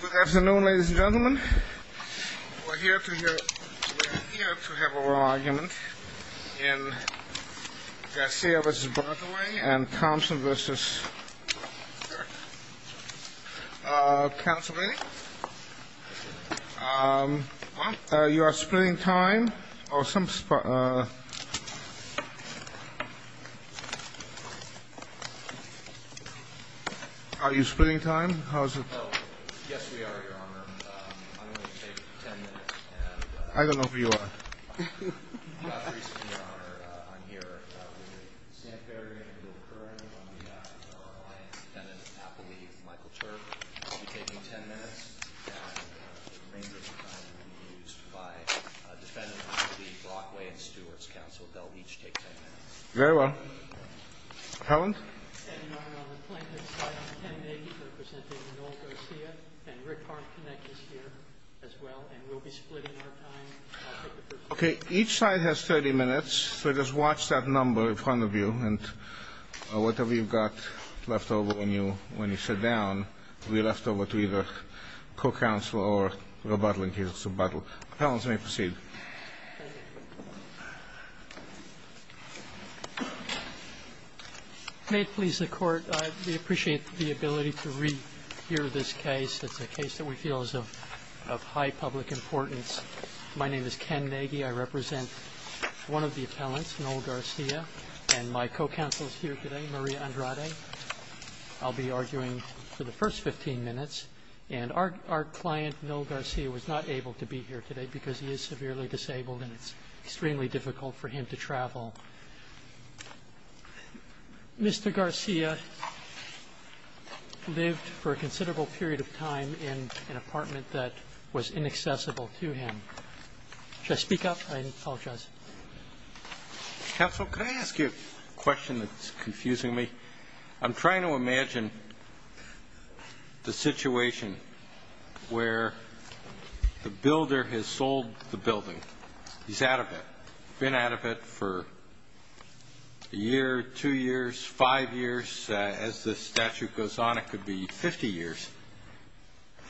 Good afternoon, ladies and gentlemen. We're here to have a raw argument in Garcia v. Brockway and Thompson v. Councilman. You are splitting time? Are you splitting time? Yes, we are, Your Honor. I'm going to take 10 minutes. I don't know who you are. Your Honor, I'm here with the Santa Fe area legal attorney on behalf of our alliance, Appellee Michael Turk. I'll be taking 10 minutes, and the remainder of the time will be used by defendants v. Brockway and Stewart's counsel. They'll each take 10 minutes. Very well. Helen? Each side has 30 minutes, so just watch that number in front of you, and whatever you've got left over when you sit down will be left over to either co-counsel or rebuttal, in case of rebuttal. So appellants may proceed. May it please the Court, we appreciate the ability to rehear this case. It's a case that we feel is of high public importance. My name is Ken Nagy. I represent one of the appellants, Noel Garcia, and my co-counsel is here today, Maria Andrade. I'll be arguing for the first 15 minutes. And our client, Noel Garcia, was not able to be here today because he is severely disabled, and it's extremely difficult for him to travel. Mr. Garcia lived for a considerable period of time in an apartment that was inaccessible to him. Should I speak up? I apologize. Counsel, could I ask you a question that's confusing me? I'm trying to imagine the situation where the builder has sold the building. He's out of it. Been out of it for a year, two years, five years. As the statute goes on, it could be 50 years.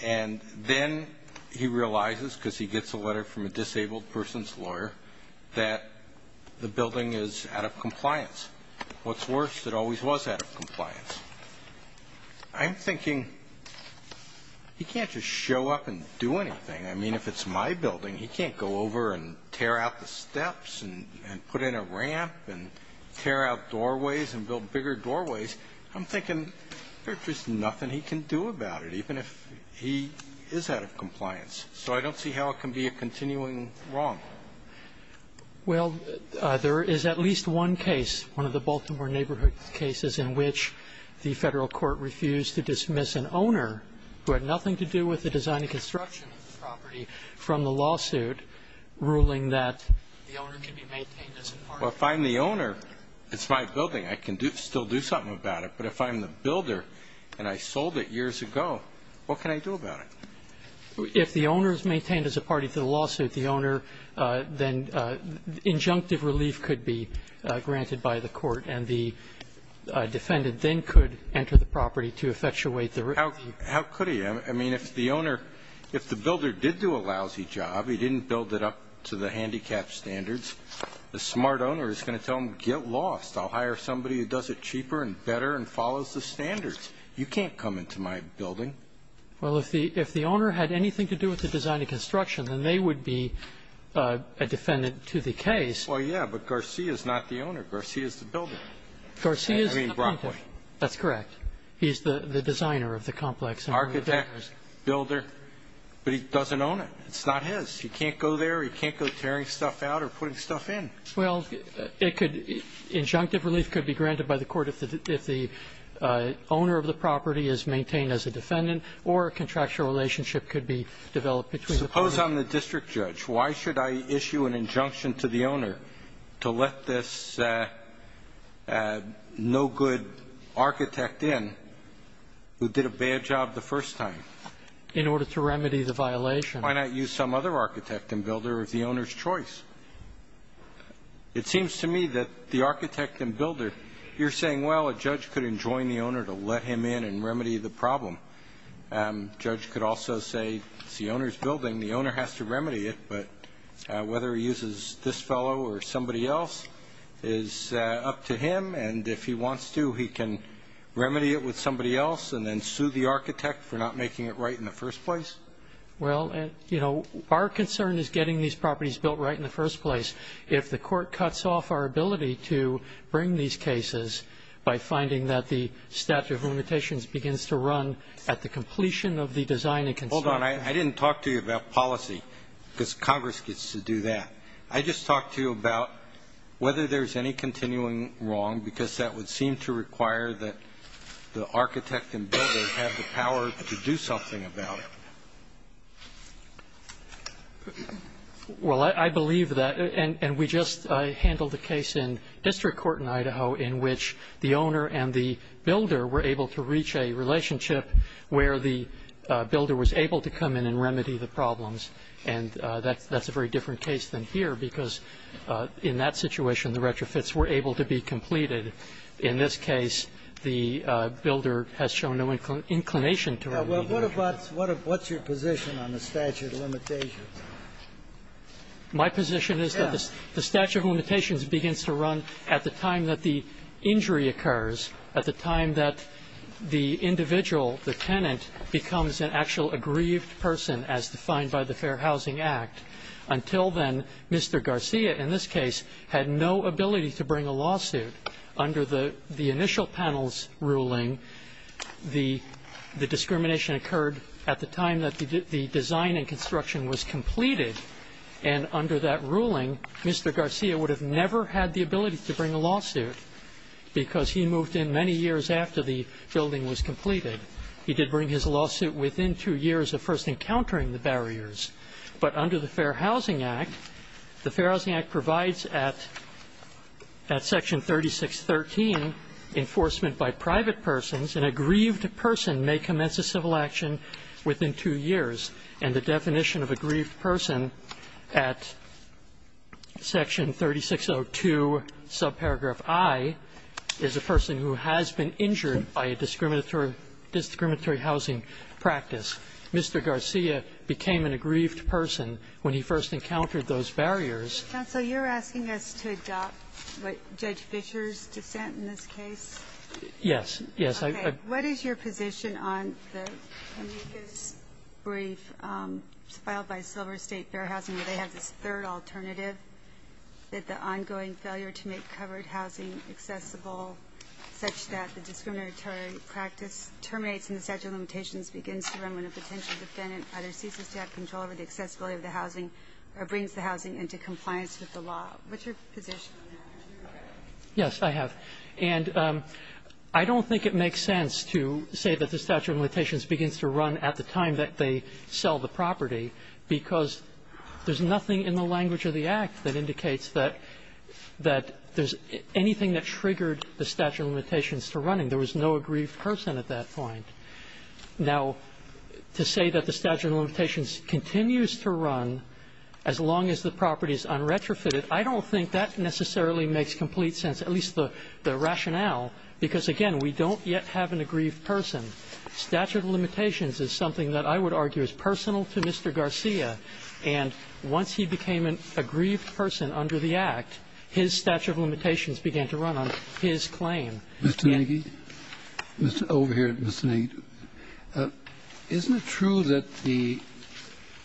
And then he realizes, because he gets a letter from a disabled person's lawyer, that the building is out of compliance. What's worse, it always was out of compliance. I'm thinking, he can't just show up and do anything. I mean, if it's my building, he can't go over and tear out the steps and put in a ramp and tear out doorways and build bigger doorways. I'm thinking there's just nothing he can do about it, even if he is out of compliance. So I don't see how it can be a continuing wrong. Well, there is at least one case, one of the Baltimore neighborhood cases, in which the federal court refused to dismiss an owner who had nothing to do with the design and construction of the property from the lawsuit, ruling that the owner can be maintained as an apartment. Well, if I'm the owner, it's my building. I can still do something about it. But if I'm the builder and I sold it years ago, what can I do about it? If the owner is maintained as a party to the lawsuit, the owner, then injunctive relief could be granted by the court, and the defendant then could enter the property to effectuate the relief. How could he? I mean, if the owner, if the builder did do a lousy job, he didn't build it up to the handicap standards, the smart owner is going to tell him, get lost. I'll hire somebody who does it cheaper and better and follows the standards. You can't come into my building. Well, if the owner had anything to do with the design and construction, then they would be a defendant to the case. Well, yeah, but Garcia is not the owner. Garcia is the builder. Garcia is the plaintiff. I mean, Brockwood. That's correct. He's the designer of the complex. Architect, builder. But he doesn't own it. It's not his. He can't go there. He can't go tearing stuff out or putting stuff in. Well, it could be, injunctive relief could be granted by the court if the owner of the property is maintained as a defendant or a contractual relationship could be developed between the parties. Suppose I'm the district judge. Why should I issue an injunction to the owner to let this no good architect in who did a bad job the first time? In order to remedy the violation. Why not use some other architect and builder of the owner's choice? It seems to me that the architect and builder, you're saying, well, a judge could enjoin the owner to let him in and remedy the problem. Judge could also say it's the owner's building. The owner has to remedy it. But whether he uses this fellow or somebody else is up to him. And if he wants to, he can remedy it with somebody else and then sue the architect for not making it right in the first place. Well, our concern is getting these properties built right in the first place. If the court cuts off our ability to bring these cases by finding that the statute of limitations begins to run at the completion of the design and construction. Hold on. I didn't talk to you about policy because Congress gets to do that. I just talked to you about whether there's any continuing wrong because that would seem to require that the architect and builder have the power to do something about it. Well, I believe that. And we just handled a case in district court in Idaho in which the owner and the builder were able to reach a relationship where the builder was able to come in and remedy the problems. And that's a very different case than here because in that situation, the retrofits were able to be completed. In this case, the builder has shown no inclination to remedy the retrofits. What's your position on the statute of limitations? My position is that the statute of limitations begins to run at the time that the injury occurs, at the time that the individual, the tenant, becomes an actual aggrieved person as defined by the Fair Housing Act. Until then, Mr. Garcia, in this case, had no ability to bring a lawsuit. Under the initial panel's ruling, the discrimination occurred at the time that the design and construction was completed. And under that ruling, Mr. Garcia would have never had the ability to bring a lawsuit because he moved in many years after the building was completed. He did bring his lawsuit within two years of first encountering the barriers. But under the Fair Housing Act, the Fair Housing Act provides at section 3613, enforcement by private persons, an aggrieved person may commence a civil action within two years. And the definition of aggrieved person at section 3602, subparagraph I, is a person who has been injured by a discriminatory housing practice. Mr. Garcia became an aggrieved person when he first encountered those barriers. Ginsburg. Counsel, you're asking us to adopt what Judge Fischer's dissent in this case? Yes. Yes. Okay. What is your position on the amicus brief filed by Silver State Fair Housing where they have this third alternative, that the ongoing failure to make covered housing accessible such that the discriminatory practice terminates and the statute of limitations begins to run when a potential defendant either ceases to have control over the accessibility of the housing or brings the housing into compliance with the law? What's your position on that? Yes, I have. And I don't think it makes sense to say that the statute of limitations begins to run at the time that they sell the property because there's nothing in the language of the Act that indicates that there's anything that triggered the statute of limitations to running. There was no aggrieved person at that point. Now, to say that the statute of limitations continues to run as long as the property is unretrofitted, I don't think that necessarily makes complete sense, at least the rationale, because, again, we don't yet have an aggrieved person. Statute of limitations is something that I would argue is personal to Mr. Garcia, and once he became an aggrieved person under the Act, his statute of limitations began to run on his claim. Mr. Nagy? Over here, Mr. Nagy. Isn't it true that the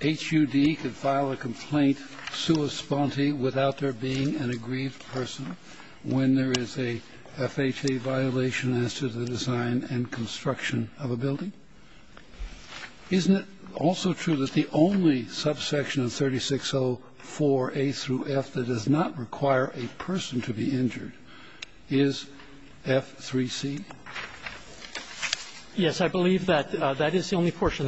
HUD could file a complaint sua sponte without there being an aggrieved person when there is a FHA violation as to the design and construction of a building? Isn't it also true that the only subsection of 3604A through F that does not require a person to be injured is F3C? Yes, I believe that. That is the only portion.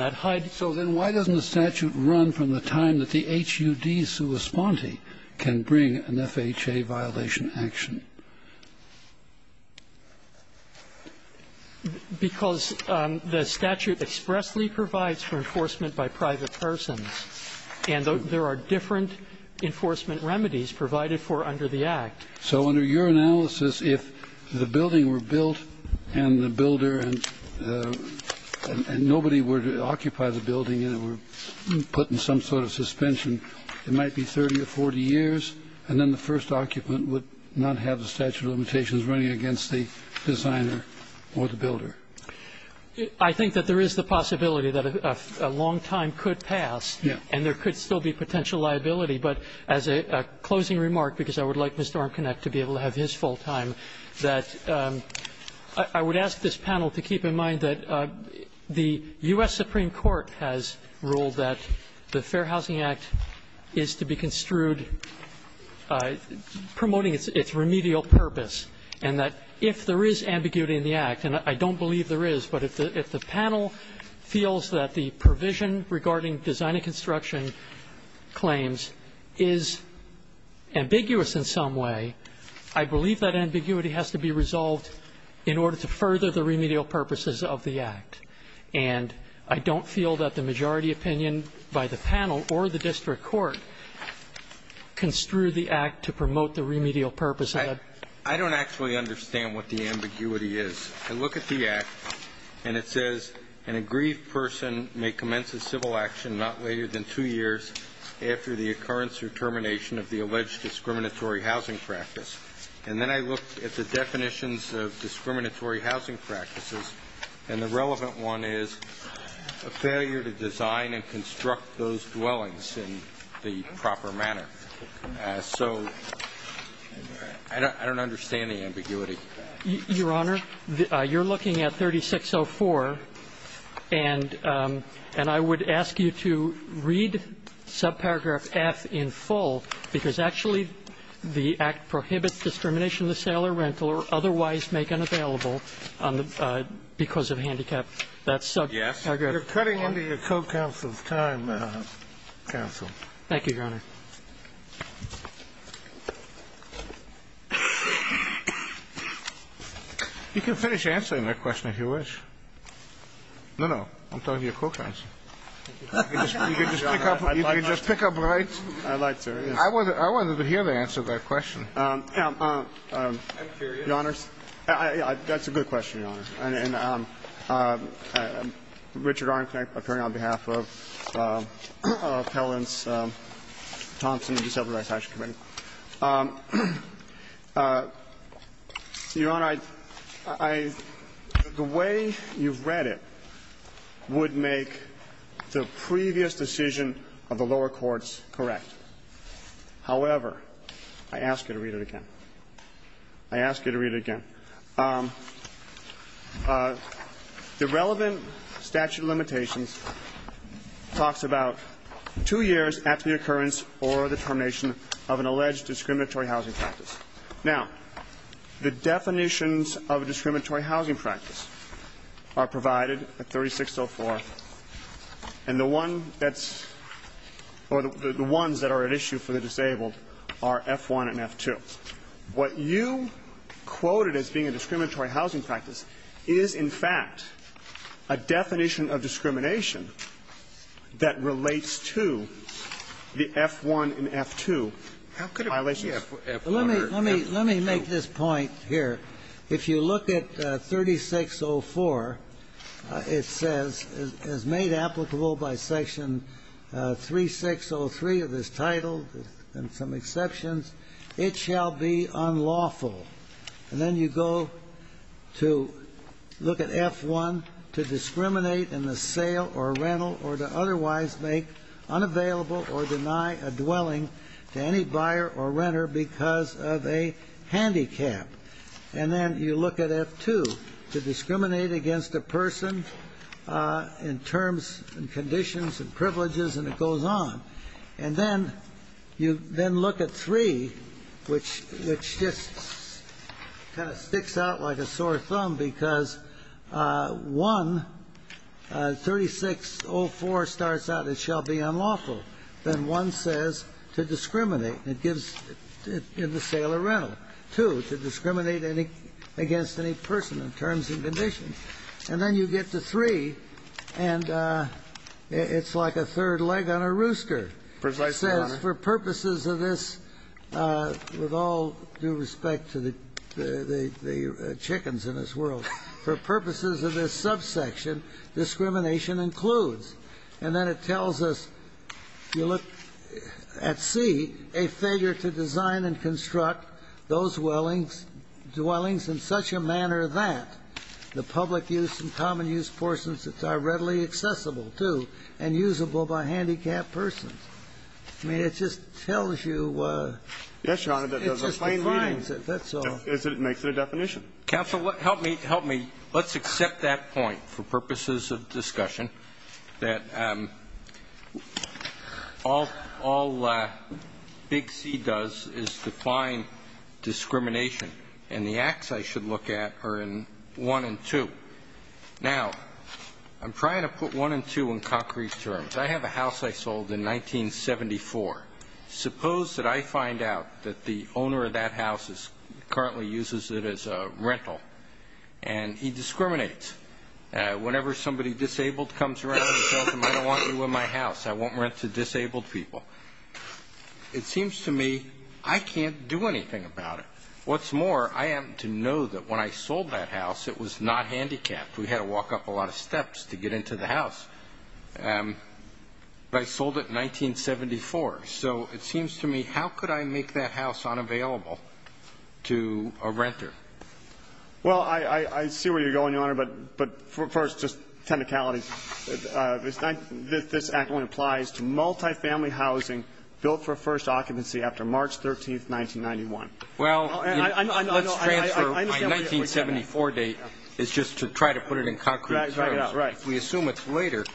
So then why doesn't the statute run from the time that the HUD sua sponte can bring an FHA violation action? Because the statute expressly provides for enforcement by private persons, and there are different enforcement remedies provided for under the Act. So under your analysis, if the building were built and the builder and nobody would occupy the building and it were put in some sort of suspension, it might be 30 to 40 years, and then the first occupant would not have the statute of limitations running against the designer or the builder. I think that there is the possibility that a long time could pass and there could still be potential liability. But as a closing remark, because I would like Mr. Armconecht to be able to have his full time, that I would ask this panel to keep in mind that the U.S. Supreme Court has ruled that the Fair Housing Act is to be construed promoting its remedial purpose, and that if there is ambiguity in the Act, and I don't believe there is, but if the panel feels that the provision regarding design and construction claims is ambiguous in some way, I believe that ambiguity has to be resolved in order to further the remedial purposes of the Act. And I don't feel that the majority opinion by the panel or the district court construed the Act to promote the remedial purpose of the Act. I don't actually understand what the ambiguity is. I look at the Act and it says, an aggrieved person may commence a civil action not later than two years after the occurrence or termination of the alleged discriminatory housing practice. And then I look at the definitions of discriminatory housing practices and the relevant one is a failure to design and construct those dwellings in the proper manner. So I don't understand the ambiguity. Your Honor, you're looking at 3604, and I would ask you to read subparagraph F in full, because actually the Act prohibits discrimination of the sale or rental or otherwise make unavailable because of handicap. That's subparagraph F. Kennedy. You're cutting into your co-counsel's time, counsel. Thank you, Your Honor. You can finish answering that question if you wish. No, no. I'm talking to you co-counsel. You can just pick up right. I wanted to hear the answer to that question. I'm curious. That's a good question, Your Honor. Richard Arnknecht, appearing on behalf of Appellants Thompson and the Disciplinary Attachments Committee. Your Honor, the way you've read it would make the previous decision of the lower courts correct. However, I ask you to read it again. I ask you to read it again. The relevant statute of limitations talks about two years after the occurrence or the termination of an alleged discriminatory housing practice. Now, the definitions of a discriminatory housing practice are provided at 3604, and the one that's or the ones that are at issue for the disabled are F-1 and F-2. What you quoted as being a discriminatory housing practice is, in fact, a definition of discrimination that relates to the F-1 and F-2 violations. Let me make this point here. If you look at 3604, it says, as made applicable by Section 3603 of this title, and some exceptions, it shall be unlawful. And then you go to look at F-1, to discriminate in the sale or rental or to otherwise make unavailable or deny a dwelling to any buyer or renter because of a handicap. And then you look at F-2, to discriminate against a person in terms and conditions and privileges, and it goes on. And then you then look at 3, which just kind of sticks out like a sore thumb, because 1, 3604 starts out, it shall be unlawful. Then 1 says, to discriminate. It gives in the sale or rental. 2, to discriminate against any person in terms and conditions. And then you get to 3, and it's like a third leg on a rooster. It says, for purposes of this, with all due respect to the chickens in this world, for purposes of this subsection, discrimination includes. And then it tells us, you look at C, a failure to design and construct those dwellings in such a manner that the public use and common use portions are readily accessible to and usable by handicapped persons. I mean, it just tells you. It just defines it. That's all. It makes it a definition. Roberts. Counsel, help me. Help me. Let's accept that point for purposes of discussion, that all Big C does is define discrimination. And the acts I should look at are in 1 and 2. Now, I'm trying to put 1 and 2 in concrete terms. I have a house I sold in 1974. Suppose that I find out that the owner of that house currently uses it as a rental, and he discriminates. Whenever somebody disabled comes around, he tells them, I don't want you in my house, I won't rent to disabled people. It seems to me I can't do anything about it. What's more, I happen to know that when I sold that house, it was not handicapped. We had to walk up a lot of steps to get into the house. But I sold it in 1974. So it seems to me, how could I make that house unavailable to a renter? Well, I see where you're going, Your Honor. But first, just technicalities. This act only applies to multifamily housing built for first occupancy after March 13, 1991. Well, let's transfer my 1974 date. It's just to try to put it in concrete terms. Right. If we assume it's later,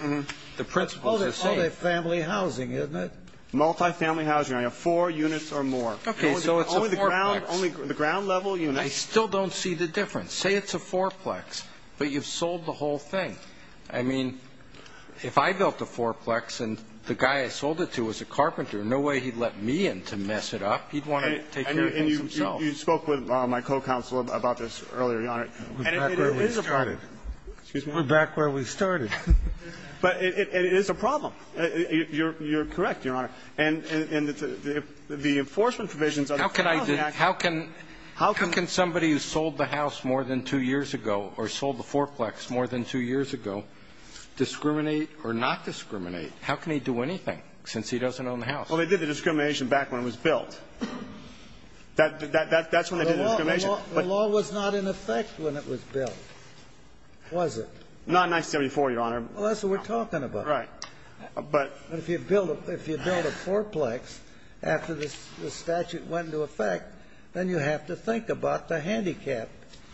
the principles are the same. Multifamily housing, isn't it? Multifamily housing. I have four units or more. Okay, so it's a fourplex. Only the ground level units. I still don't see the difference. Say it's a fourplex, but you've sold the whole thing. I mean, if I built a fourplex and the guy I sold it to was a carpenter, no way he'd let me in to mess it up. He'd want to take care of things himself. And you spoke with my co-counsel about this earlier, Your Honor. And it is a problem. We're back where we started. Excuse me? We're back where we started. But it is a problem. You're correct, Your Honor. And the enforcement provisions of the Family Act. How can somebody who sold the house more than two years ago or sold the fourplex more than two years ago discriminate or not discriminate? How can he do anything since he doesn't own the house? Well, they did the discrimination back when it was built. That's when they did the discrimination. Well, the law was not in effect when it was built, was it? Not in 1974, Your Honor. Well, that's what we're talking about. Right. But if you build a fourplex after the statute went into effect, then you have to think about the handicap.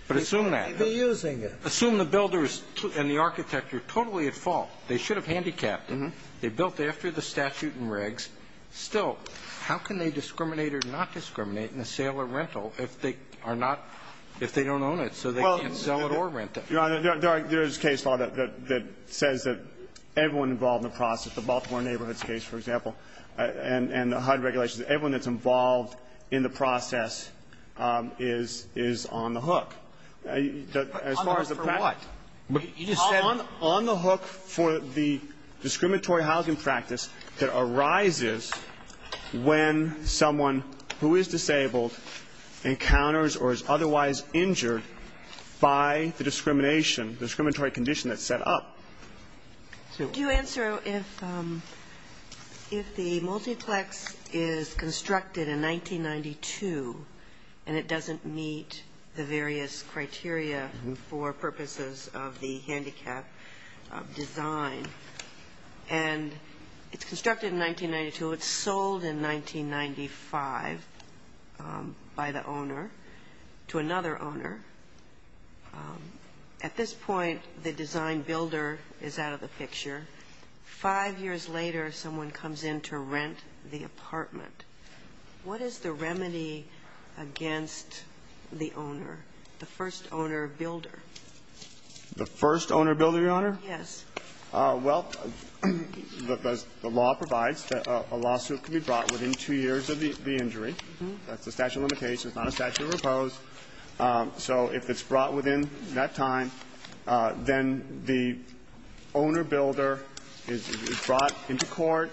But assume that. They may be using it. Assume the builder and the architect are totally at fault. They should have handicapped him. They built after the statute and regs. Still, how can they discriminate or not discriminate in the sale or rental if they are not, if they don't own it, so they can't sell it or rent it? Your Honor, there is case law that says that everyone involved in the process, the Baltimore Neighborhoods case, for example, and HUD regulations, everyone that's involved in the process is on the hook. But on the hook for what? When someone who is disabled encounters or is otherwise injured by the discrimination, the discriminatory condition that's set up. Do you answer if the multiplex is constructed in 1992 and it doesn't meet the various criteria for purposes of the handicap design and it's constructed in 1992, it's sold in 1995 by the owner to another owner. At this point, the design builder is out of the picture. Five years later, someone comes in to rent the apartment. What is the remedy against the owner, the first owner builder? The first owner builder, Your Honor? Yes. Well, the law provides that a lawsuit can be brought within two years of the injury. That's a statute of limitations, not a statute of repose. So if it's brought within that time, then the owner builder is brought into court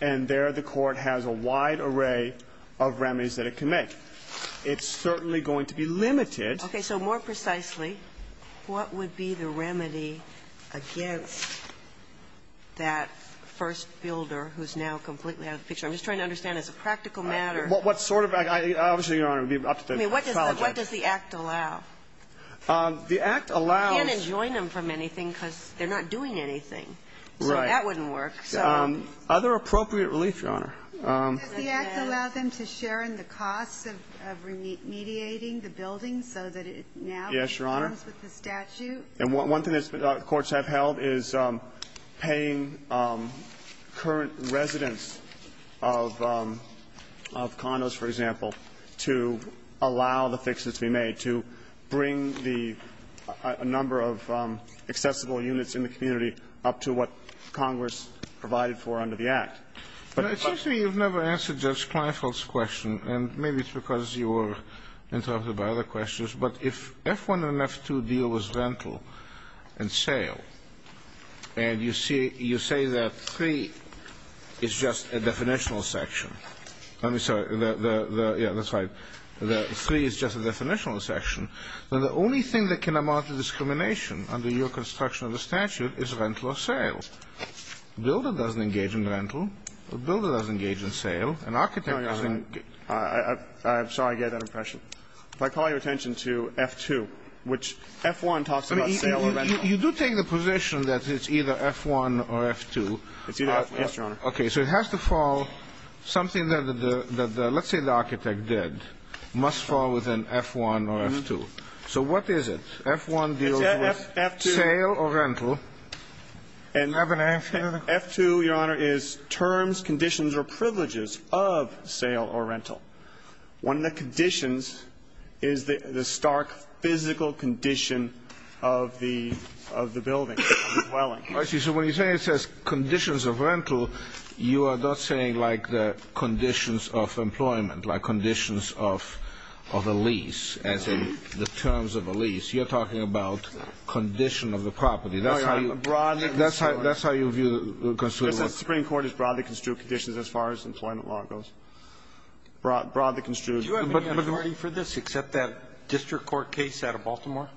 and there the court has a wide array of remedies that it can make. It's certainly going to be limited. Okay. So more precisely, what would be the remedy against that first builder who's now completely out of the picture? I'm just trying to understand as a practical matter. What sort of act? Obviously, Your Honor, it would be up to the college judge. I mean, what does the act allow? The act allows you to join them from anything because they're not doing anything. Right. So that wouldn't work. Other appropriate relief, Your Honor. Does the act allow them to share in the costs of remediating the building so that it now comes with the statute? Yes, Your Honor. And one thing that courts have held is paying current residents of condos, for example, to allow the fixes to be made, to bring the ñ a number of accessible units in the community up to what Congress provided for under the act. But it seems to me you've never answered Judge Kleinfeld's question, and maybe it's because you were interrupted by other questions. But if F1 and F2 deal was rental and sale, and you say that 3 is just a definitional section. I'm sorry. Yeah, that's right. That 3 is just a definitional section, then the only thing that can amount to discrimination under your construction of the statute is rental or sale. A builder doesn't engage in rental. A builder doesn't engage in sale. An architect doesn't ñ I'm sorry I gave that impression. If I call your attention to F2, which F1 talks about sale or rental. You do take the position that it's either F1 or F2. It's either F2, yes, Your Honor. Okay. So it has to fall something that the ñ let's say the architect did, must fall within F1 or F2. So what is it? F1 deals with sale or rental. And F2, Your Honor, is terms, conditions or privileges of sale or rental. One of the conditions is the stark physical condition of the building, of the dwelling. I see. So when you say it says conditions of rental, you are not saying like the conditions of employment, like conditions of a lease, as in the terms of a lease. You're talking about condition of the property. That's how you ñ Broadly construed. That's how you view ñ The Supreme Court has broadly construed conditions as far as employment law goes. Broadly construed. Do you have a majority for this except that district court case out of Baltimore?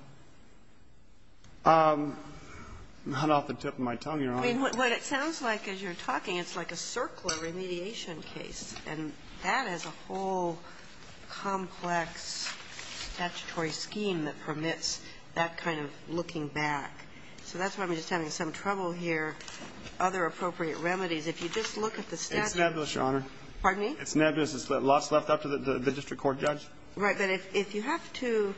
Not off the tip of my tongue, Your Honor. I mean, what it sounds like as you're talking, it's like a circular remediation case, and that is a whole complex statutory scheme that permits that kind of looking back. So that's why I'm just having some trouble here, other appropriate remedies. If you just look at the statute ñ It's nebulous, Your Honor. Pardon me? It's nebulous. There's lots left up to the district court judge. Right. But if you have to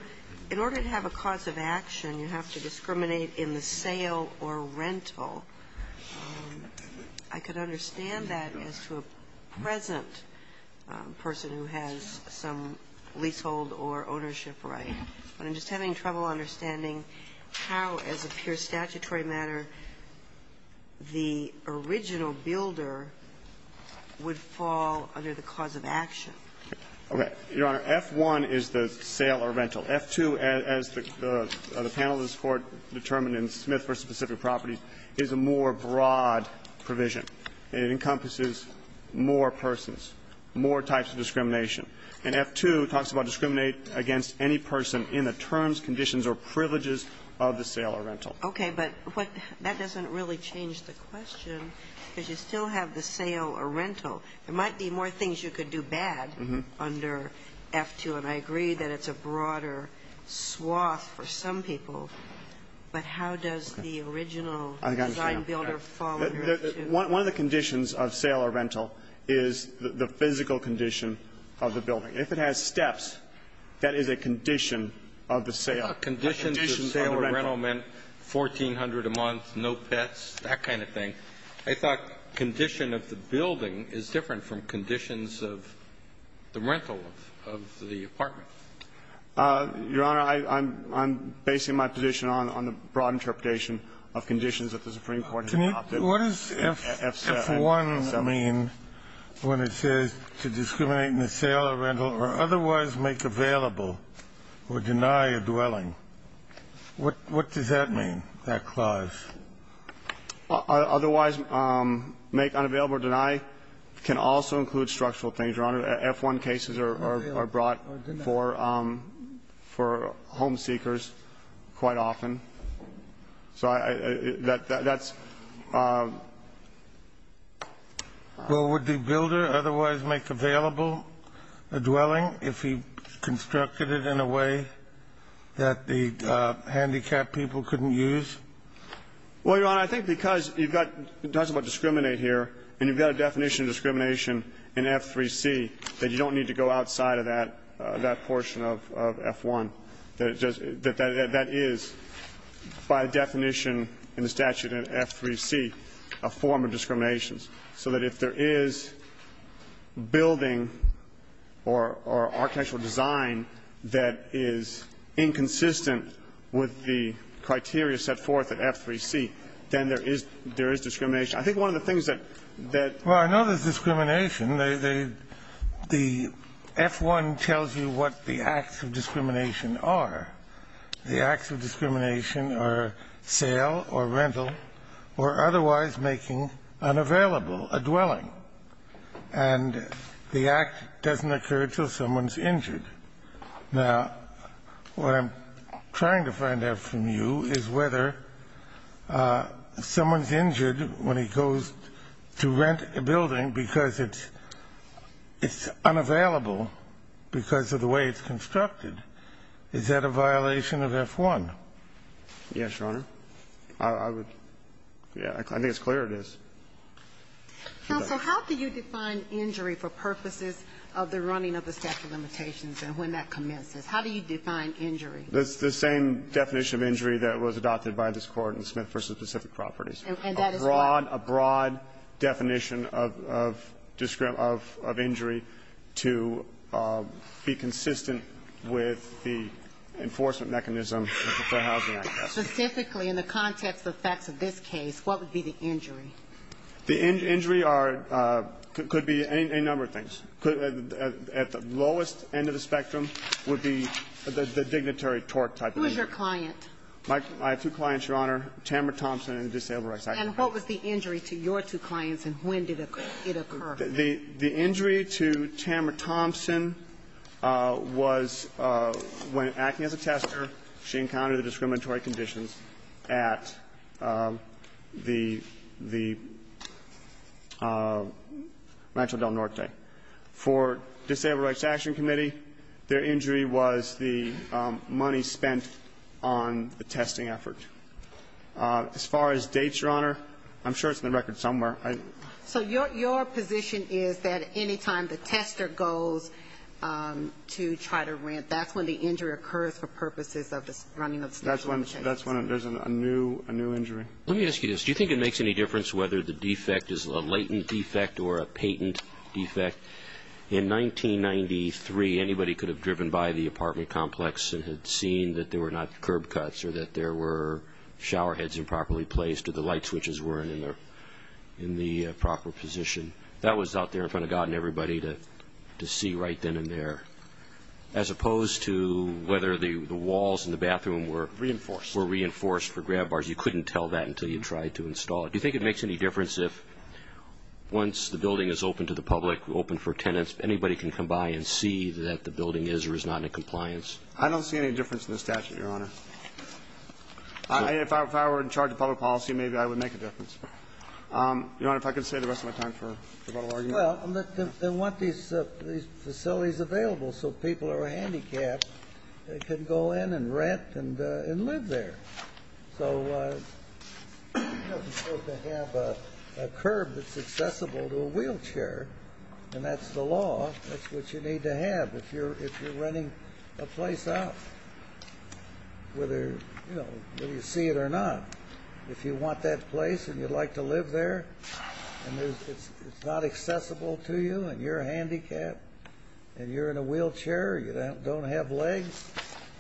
ñ in order to have a cause of action, you have to discriminate in the sale or rental. I could understand that as to a present person who has some leasehold or ownership right. But I'm just having trouble understanding how, as a pure statutory matter, the original builder would fall under the cause of action. Okay. Your Honor, F-1 is the sale or rental. F-2, as the panel has determined in Smith v. Pacific Properties, is a more broad It encompasses more persons, more types of discrimination. And F-2 talks about discriminate against any person in the terms, conditions or privileges of the sale or rental. Okay. But what ñ that doesn't really change the question, because you still have the sale or rental. There might be more things you could do bad under F-2, and I agree that it's a broader swath for some people. But how does the original design builder fall under F-2? One of the conditions of sale or rental is the physical condition of the building. If it has steps, that is a condition of the sale. Conditions of sale or rental meant 1,400 a month, no pets, that kind of thing. I thought condition of the building is different from conditions of the rental of the apartment. Your Honor, I'm basing my position on the broad interpretation of conditions that the Supreme Court has adopted. Can you ñ what does F-1 mean when it says to discriminate in the sale or rental or otherwise make available or deny a dwelling? What does that mean, that clause? Otherwise make unavailable or deny can also include structural things, Your Honor. F-1 cases are brought for home seekers quite often. So that's ñ Well, would the builder otherwise make available a dwelling if he constructed it in a way that the handicapped people couldn't use? Well, Your Honor, I think because you've got ñ it talks about discriminate here, and you've got a definition of discrimination in F-3C that you don't need to go outside of that portion of F-1. That is, by definition in the statute in F-3C, a form of discrimination. So that if there is building or architectural design that is inconsistent with the criteria set forth in F-3C, then there is ñ there is discrimination. I think one of the things that ñ Well, I know there's discrimination. The F-1 tells you what the acts of discrimination are. The acts of discrimination are sale or rental or otherwise making unavailable a dwelling, and the act doesn't occur until someone's injured. Now, what I'm trying to find out from you is whether someone's injured when he goes to rent a building because it's unavailable because of the way it's constructed. Is that a violation of F-1? Yes, Your Honor. I would ñ yeah, I think it's clear it is. Counsel, how do you define injury for purposes of the running of the statute of limitations and when that commences? How do you define injury? It's the same definition of injury that was adopted by this Court in Smith v. Pacific Properties. And that is what? A broad ñ a broad definition of injury to be consistent with the enforcement mechanism for housing access. Specifically, in the context of the facts of this case, what would be the injury? The injury are ñ could be any number of things. At the lowest end of the spectrum would be the dignitary tort type of injury. Who is your client? I have two clients, Your Honor, Tamra Thompson and the Disabled Rights Act. And what was the injury to your two clients and when did it occur? The injury to Tamra Thompson was when, acting as a tester, she encountered the discriminatory conditions at the Rancho Del Norte. For Disabled Rights Action Committee, their injury was the money spent on the testing effort. As far as dates, Your Honor, I'm sure it's in the record somewhere. So your position is that any time the tester goes to try to rent, that's when the injury occurs for purposes of the running of the station limitations? That's when there's a new ñ a new injury. Let me ask you this. Do you think it makes any difference whether the defect is a latent defect or a patent defect? In 1993, anybody could have driven by the apartment complex and had seen that there were not curb cuts or that there were shower heads improperly placed or the light switches weren't in the proper position. That was out there in front of God and everybody to see right then and there. As opposed to whether the walls in the bathroom were ñ Reinforced. ñ were reinforced for grab bars. You couldn't tell that until you tried to install it. Do you think it makes any difference if once the building is open to the public, open for tenants, anybody can come by and see that the building is or is not in compliance? I don't see any difference in the statute, Your Honor. If I were in charge of public policy, maybe I would make a difference. Your Honor, if I could stay the rest of my time for rebuttal argument. Well, they want these facilities available so people who are handicapped can go in and rent and live there. So you're not supposed to have a curb that's accessible to a wheelchair, and that's the law. That's what you need to have. If you're renting a place out, whether you see it or not, if you want that place and you'd like to live there and it's not accessible to you and you're handicapped and you're in a wheelchair, you don't have legs,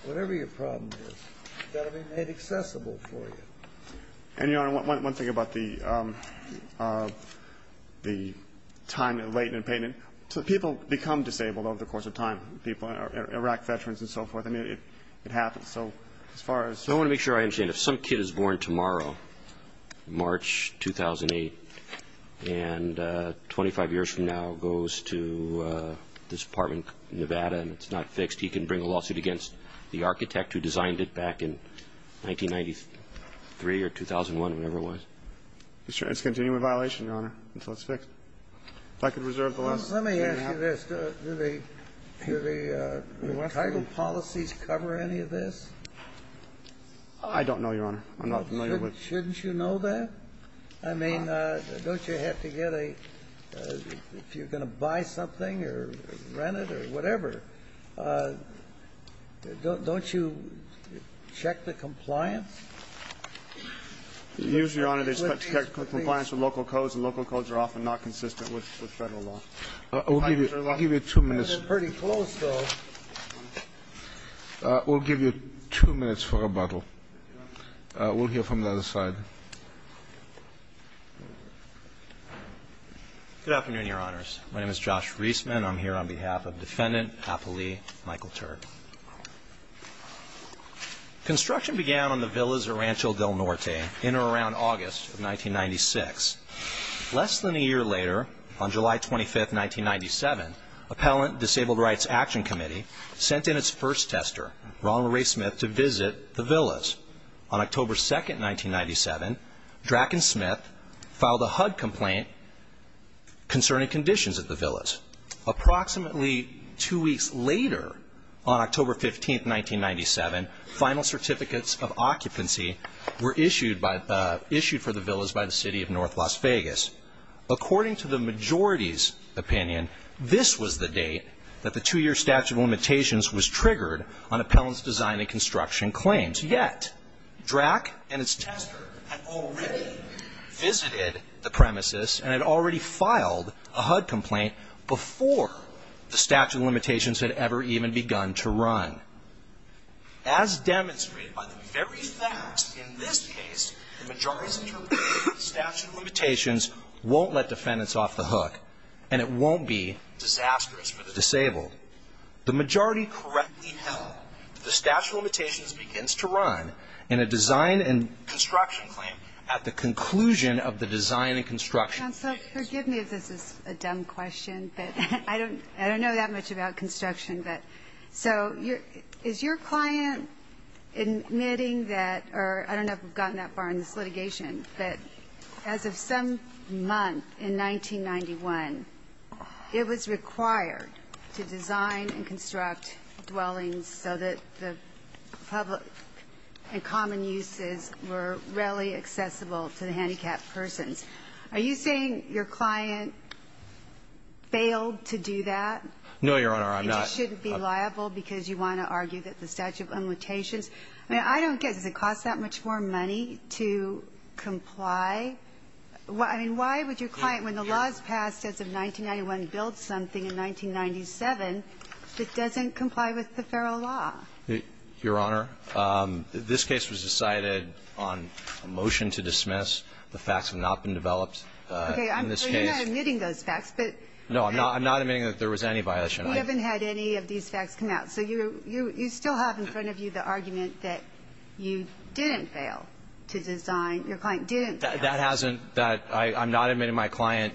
whatever your problem is, it's got to be made accessible for you. And, Your Honor, one thing about the late payment. People become disabled over the course of time, Iraq veterans and so forth. I mean, it happens. I want to make sure I understand. If some kid is born tomorrow, March 2008, and 25 years from now goes to this apartment in Nevada and it's not fixed, he can bring a lawsuit against the architect who designed it back in 1993 or 2001, whatever it was? It's a continuing violation, Your Honor, until it's fixed. If I could reserve the last day and a half. Let me ask you this. Do the title policies cover any of this? I don't know, Your Honor. I'm not familiar with it. Shouldn't you know that? I mean, don't you have to get a – if you're going to buy something or rent it or whatever, don't you check the compliance? Usually, Your Honor, they expect to get compliance with local codes, and local codes are often not consistent with federal law. I'll give you two minutes. They've been pretty close, though. We'll give you two minutes for rebuttal. We'll hear from the other side. Good afternoon, Your Honors. My name is Josh Reisman. I'm here on behalf of Defendant Apolli Michael Turd. Construction began on the Villa Zarrancho del Norte in or around August of 1996. Less than a year later, on July 25, 1997, Appellant Disabled Rights Action Committee sent in its first tester, Ronald Ray Smith, to visit the villas. On October 2, 1997, Dracken Smith filed a HUD complaint concerning conditions at the villas. Approximately two weeks later, on October 15, 1997, final certificates of occupancy were issued for the villas by the City of North Las Vegas. According to the majority's opinion, this was the date that the two-year statute of limitations was triggered on Appellant's design and construction claims. Yet, Drack and its tester had already visited the premises and had already filed a HUD complaint before the statute of limitations had ever even begun to run. As demonstrated by the very facts in this case, the majority's interpretation of the statute of limitations won't let defendants off the hook, and it won't be disastrous for the disabled. The majority correctly held that the statute of limitations begins to run in a design and construction claim at the conclusion of the design and construction claims. Counsel, forgive me if this is a dumb question, but I don't know that much about construction. But so is your client admitting that, or I don't know if we've gotten that far in this litigation, but as of some month in 1991, it was required to design and construct dwellings so that the public and common uses were readily accessible to the handicapped persons. Are you saying your client failed to do that? No, Your Honor, I'm not. And you shouldn't be liable because you want to argue that the statute of limitations I mean, I don't get it. Does it cost that much more money to comply? I mean, why would your client, when the law is passed as of 1991, build something in 1997 that doesn't comply with the federal law? Your Honor, this case was decided on a motion to dismiss. The facts have not been developed in this case. Okay. So you're not admitting those facts. No, I'm not admitting that there was any violation. You haven't had any of these facts come out. So you still have in front of you the argument that you didn't fail to design. Your client didn't fail. That hasn't. I'm not admitting my client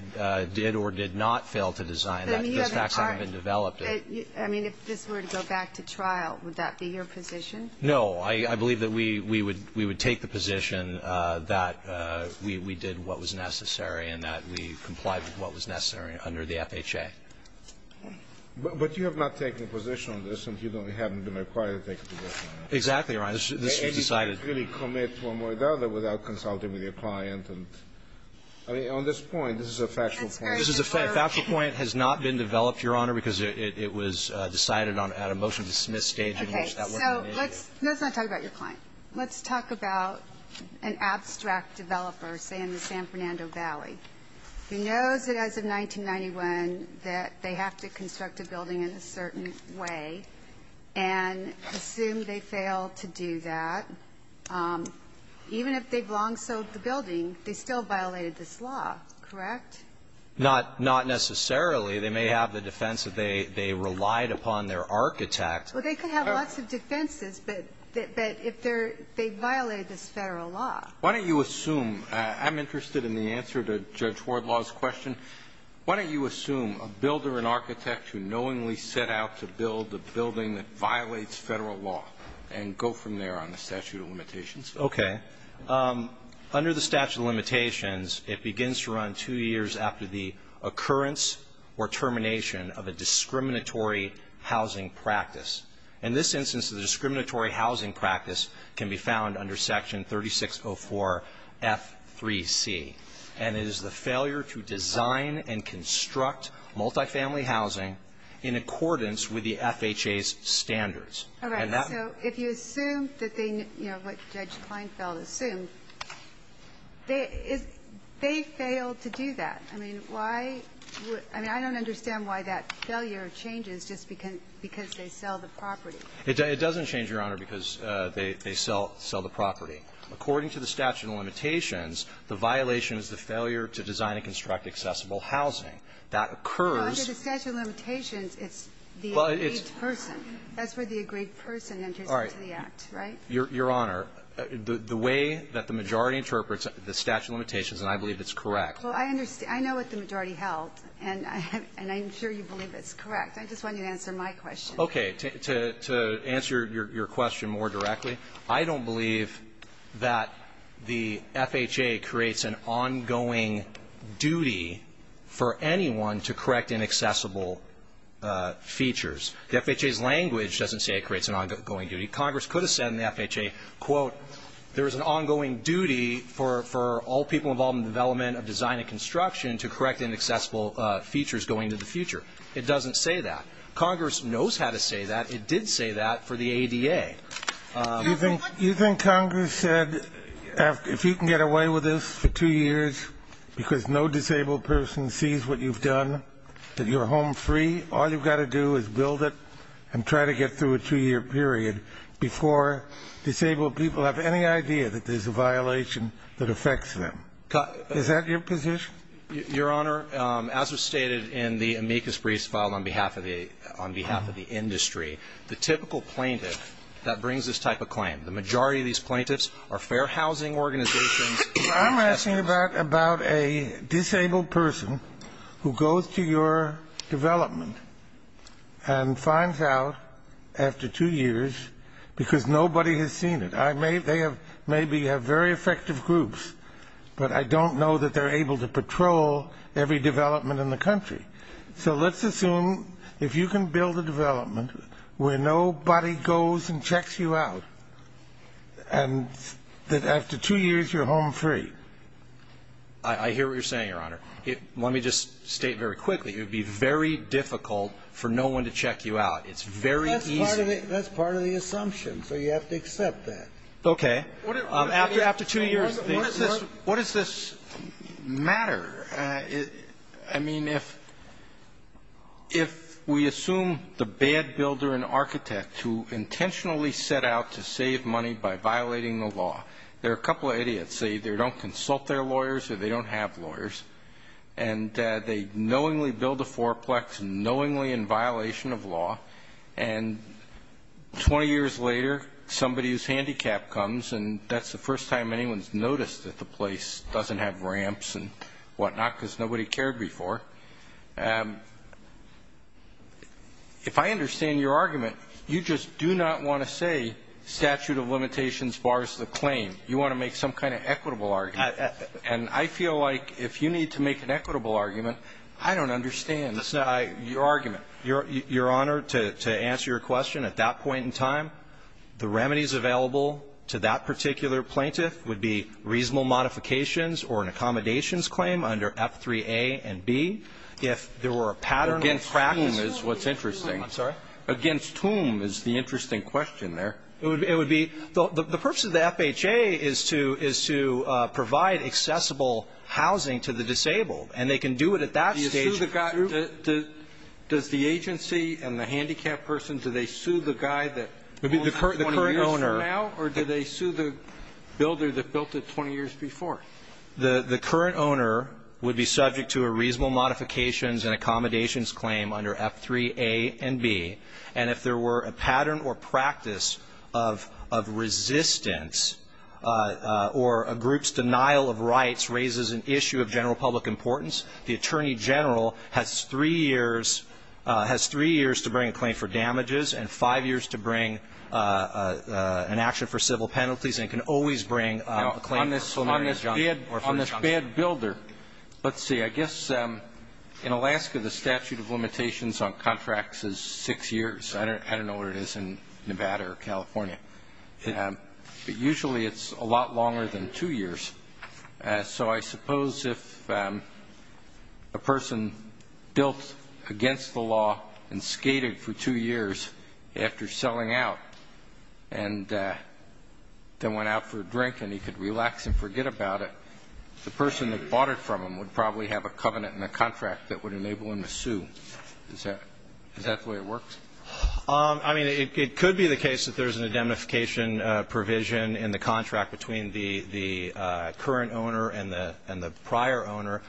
did or did not fail to design. Those facts haven't been developed. I mean, if this were to go back to trial, would that be your position? No. I believe that we would take the position that we did what was necessary and that we complied with what was necessary under the FHA. But you have not taken a position on this, and you haven't been required to take a position on it. Exactly, Your Honor. This was decided. And you didn't really commit one way or the other without consulting with your client. I mean, on this point, this is a factual point. This is a factual point. It has not been developed, Your Honor, because it was decided at a motion to dismiss stage in which that wasn't needed. Okay. So let's not talk about your client. Let's talk about an abstract developer, say, in the San Fernando Valley, who knows that as of 1991 that they have to construct a building in a certain way and assumed they failed to do that. Even if they've long sold the building, they still violated this law, correct? Not necessarily. They may have the defense that they relied upon their architect. Well, they could have lots of defenses, but if they're they violated this Federal law. Why don't you assume? I'm interested in the answer to Judge Wardlaw's question. Why don't you assume a builder, an architect who knowingly set out to build a building that violates Federal law and go from there on the statute of limitations? Okay. Under the statute of limitations, it begins to run two years after the occurrence or termination of a discriminatory housing practice. In this instance, the discriminatory housing practice can be found under Section 3604F3C, and it is the failure to design and construct multifamily housing in accordance with the FHA's standards. All right. So if you assume that they, you know, what Judge Kleinfeld assumed, they failed to do that. I mean, why? I mean, I don't understand why that failure changes just because they sell the property. It doesn't change, Your Honor, because they sell the property. According to the statute of limitations, the violation is the failure to design and construct accessible housing. That occurs. Under the statute of limitations, it's the agreed person. That's where the agreed person enters into the act, right? All right. Your Honor, the way that the majority interprets the statute of limitations, and I believe it's correct. Well, I understand. I know what the majority held, and I'm sure you believe it's correct. I just want you to answer my question. Okay. To answer your question more directly, I don't believe that the FHA creates an ongoing duty for anyone to correct inaccessible features. The FHA's language doesn't say it creates an ongoing duty. Congress could have said in the FHA, quote, there is an ongoing duty for all people involved in the development of design and construction to correct inaccessible features going into the future. It doesn't say that. Congress knows how to say that. It did say that for the ADA. You think Congress said if you can get away with this for two years because no disabled person sees what you've done, that you're home free, all you've got to do is build it and try to get through a two-year period before disabled people have any idea that there's a violation that affects them. Is that your position? Your Honor, as was stated in the amicus briefs filed on behalf of the industry, the typical plaintiff that brings this type of claim, the majority of these plaintiffs are fair housing organizations. I'm asking about a disabled person who goes to your development and finds out after two years because nobody has seen it. They maybe have very effective groups, but I don't know that they're able to patrol every development in the country. So let's assume if you can build a development where nobody goes and checks you out and that after two years you're home free. I hear what you're saying, Your Honor. Let me just state very quickly, it would be very difficult for no one to check you out. It's very easy. That's part of the assumption, so you have to accept that. Okay. After two years of this. What does this matter? I mean, if we assume the bad builder and architect who intentionally set out to save money by violating the law, they're a couple of idiots. They either don't consult their lawyers or they don't have lawyers, and they knowingly build a fourplex, knowingly in violation of law, and 20 years later somebody's handicap comes and that's the first time anyone's noticed that the place doesn't have ramps and whatnot because nobody cared before. If I understand your argument, you just do not want to say statute of limitations bars the claim. You want to make some kind of equitable argument. And I feel like if you need to make an equitable argument, I don't understand your argument. Your Honor, to answer your question, at that point in time, the remedies available to that particular plaintiff would be reasonable modifications or an accommodations claim under F3A and B. If there were a pattern of practice. Against whom is what's interesting. I'm sorry? Against whom is the interesting question there. It would be the purpose of the FHA is to provide accessible housing to the disabled. And they can do it at that stage. Does the agency and the handicapped person, do they sue the guy that owns it 20 years from now or do they sue the builder that built it 20 years before? The current owner would be subject to a reasonable modifications and accommodations claim under F3A and B. And if there were a pattern or practice of resistance or a group's denial of rights raises an issue of general public importance, the attorney general has three years to bring a claim for damages and five years to bring an action for civil penalties and can always bring a claim for a preliminary injunction. On this bad builder, let's see. I guess in Alaska the statute of limitations on contracts is six years. I don't know where it is in Nevada or California. But usually it's a lot longer than two years. So I suppose if a person built against the law and skated for two years after selling out and then went out for a drink and he could relax and forget about it, the person that bought it from him would probably have a covenant and a contract that would enable him to sue. Is that the way it works? I mean, it could be the case that there's an indemnification provision in the contract between the current owner and the prior owner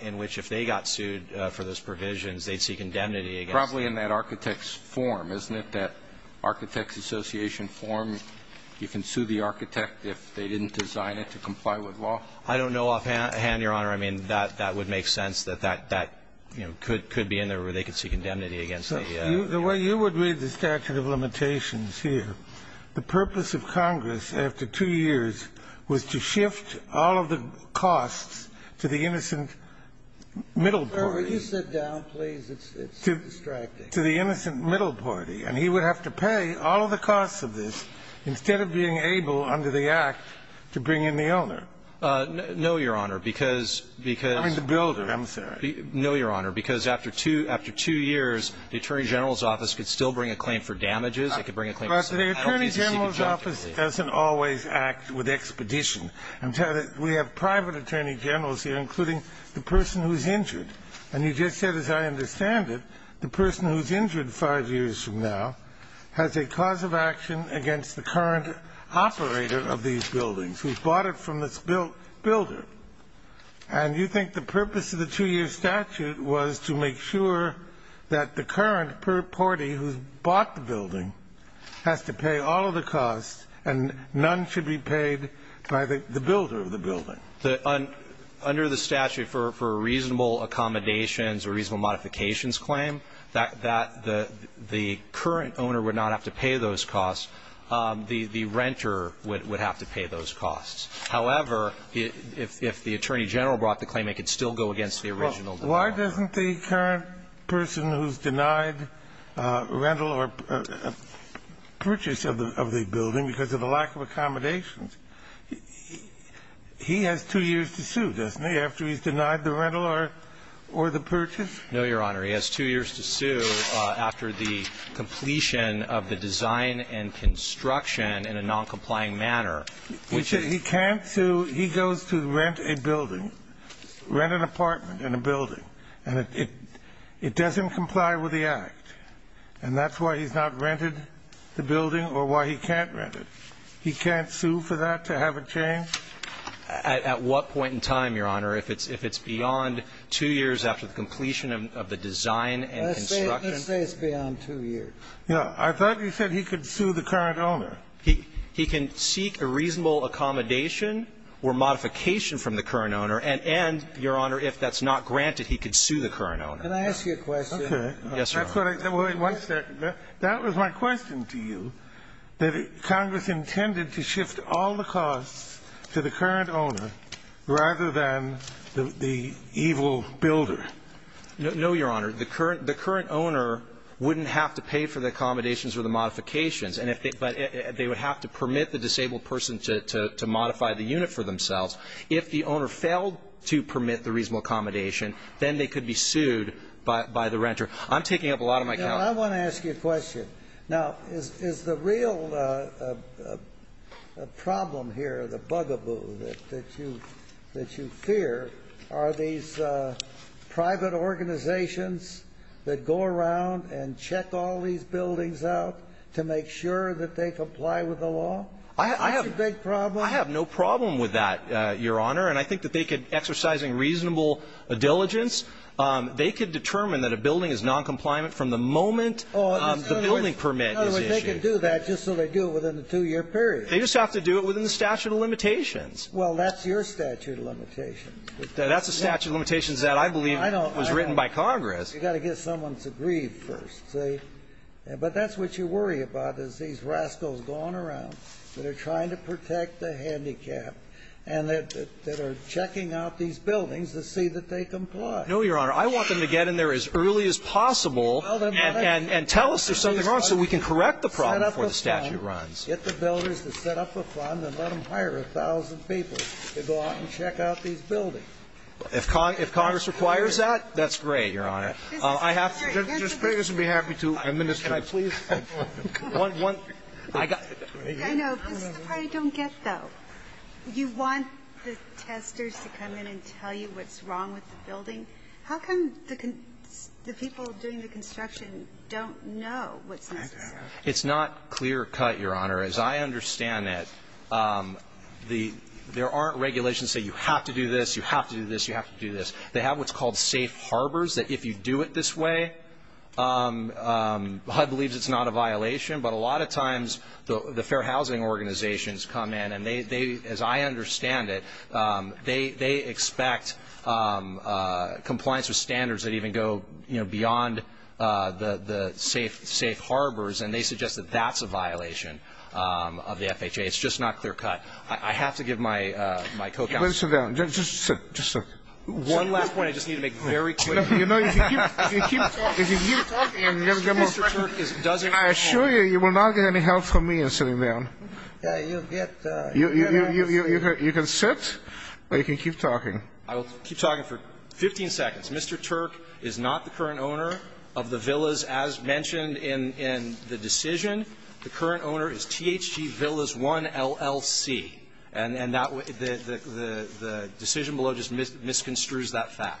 in which if they got sued for those provisions, they'd seek indemnity against them. Probably in that architect's form, isn't it? That architect's association form. You can sue the architect if they didn't design it to comply with law? I don't know offhand, Your Honor. I mean, that would make sense that that could be in there where they could seek indemnity against the owner. The way you would read the statute of limitations here, the purpose of Congress after two years was to shift all of the costs to the innocent middle party. Could you sit down, please? It's distracting. To the innocent middle party. And he would have to pay all of the costs of this instead of being able under the I mean, the builder, I'm sorry. No, Your Honor. Because after two years, the Attorney General's office could still bring a claim for damages. It could bring a claim for penalties. But the Attorney General's office doesn't always act with expedition. I'm telling you, we have private Attorney Generals here, including the person who's injured. And you just said, as I understand it, the person who's injured five years from now has a cause of action against the current operator of these buildings, who's bought from this builder. And you think the purpose of the two-year statute was to make sure that the current party who's bought the building has to pay all of the costs and none should be paid by the builder of the building. Under the statute, for reasonable accommodations or reasonable modifications claim, that the current owner would not have to pay those costs. The renter would have to pay those costs. However, if the Attorney General brought the claim, it could still go against the original developer. Well, why doesn't the current person who's denied rental or purchase of the building because of the lack of accommodations, he has two years to sue, doesn't he, after he's denied the rental or the purchase? No, Your Honor. He has two years to sue after the completion of the design and construction in a noncomplying manner. He can't sue. He goes to rent a building, rent an apartment in a building, and it doesn't comply with the Act. And that's why he's not rented the building or why he can't rent it. He can't sue for that to have it changed? At what point in time, Your Honor, if it's beyond two years after the completion of the design and construction? Let's say it's beyond two years. Yeah. I thought you said he could sue the current owner. He can seek a reasonable accommodation or modification from the current owner, and, Your Honor, if that's not granted, he could sue the current owner. Can I ask you a question? Okay. Yes, Your Honor. Wait one second. That was my question to you, that Congress intended to shift all the costs to the current owner rather than the evil builder. No, Your Honor. The current owner wouldn't have to pay for the accommodations or the modifications. But they would have to permit the disabled person to modify the unit for themselves. If the owner failed to permit the reasonable accommodation, then they could be sued by the renter. I'm taking up a lot of my time. I want to ask you a question. Now, is the real problem here, the bugaboo that you fear, are these private organizations that go around and check all these buildings out to make sure that they comply with the law? That's a big problem. I have no problem with that, Your Honor. And I think that they could, exercising reasonable diligence, they could determine that a building is noncompliant from the moment the building permit is issued. They can do that just so they do it within a two-year period. They just have to do it within the statute of limitations. Well, that's your statute of limitations. That's a statute of limitations that I believe was written by Congress. You've got to get someone to agree first, see? But that's what you worry about is these rascals going around that are trying to protect the handicapped and that are checking out these buildings to see that they comply. No, Your Honor. I want them to get in there as early as possible and tell us there's something wrong so we can correct the problem before the statute runs. Get the builders to set up a fund and let them hire a thousand people to go out and repair the building. If Congress requires that, that's great, Your Honor. I have to be happy to administer. Can I please? I know. This is the part I don't get, though. You want the testers to come in and tell you what's wrong with the building. How come the people doing the construction don't know what's necessary? It's not clear-cut, Your Honor. You have to do this. You have to do this. They have what's called safe harbors that if you do it this way, HUD believes it's not a violation. But a lot of times the fair housing organizations come in and they, as I understand it, they expect compliance with standards that even go beyond the safe harbors, and they suggest that that's a violation of the FHA. I have to give my co-counsel. Mr. Tenney. Do you want me to sit down? Just sit, just sit. One last point I just need to make very quickly. You know if you keep talking and you never get more ---- Mr. Turk does any more. I assure you, you will not get any help from me in sitting down. You can sit. Or you can keep talking. I will keep talking for 15 seconds. Mr. Turk is not the current owner of the villas as mentioned in the decision. The current owner is THG Villas 1 LLC. And the decision below just misconstrues that fact.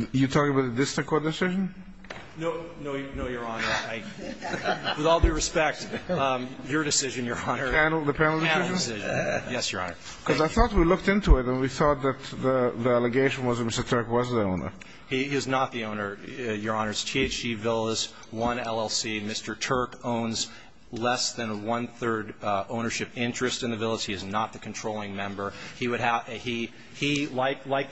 Are you talking about the district court decision? No, Your Honor. With all due respect, your decision, Your Honor. The panel decision? Yes, Your Honor. Because I thought we looked into it and we thought that the allegation was that Mr. Turk was the owner. He is not the owner, Your Honor. It's THG Villas 1 LLC. Mr. Turk owns less than a one-third ownership interest in the villas. He is not the controlling member. He, like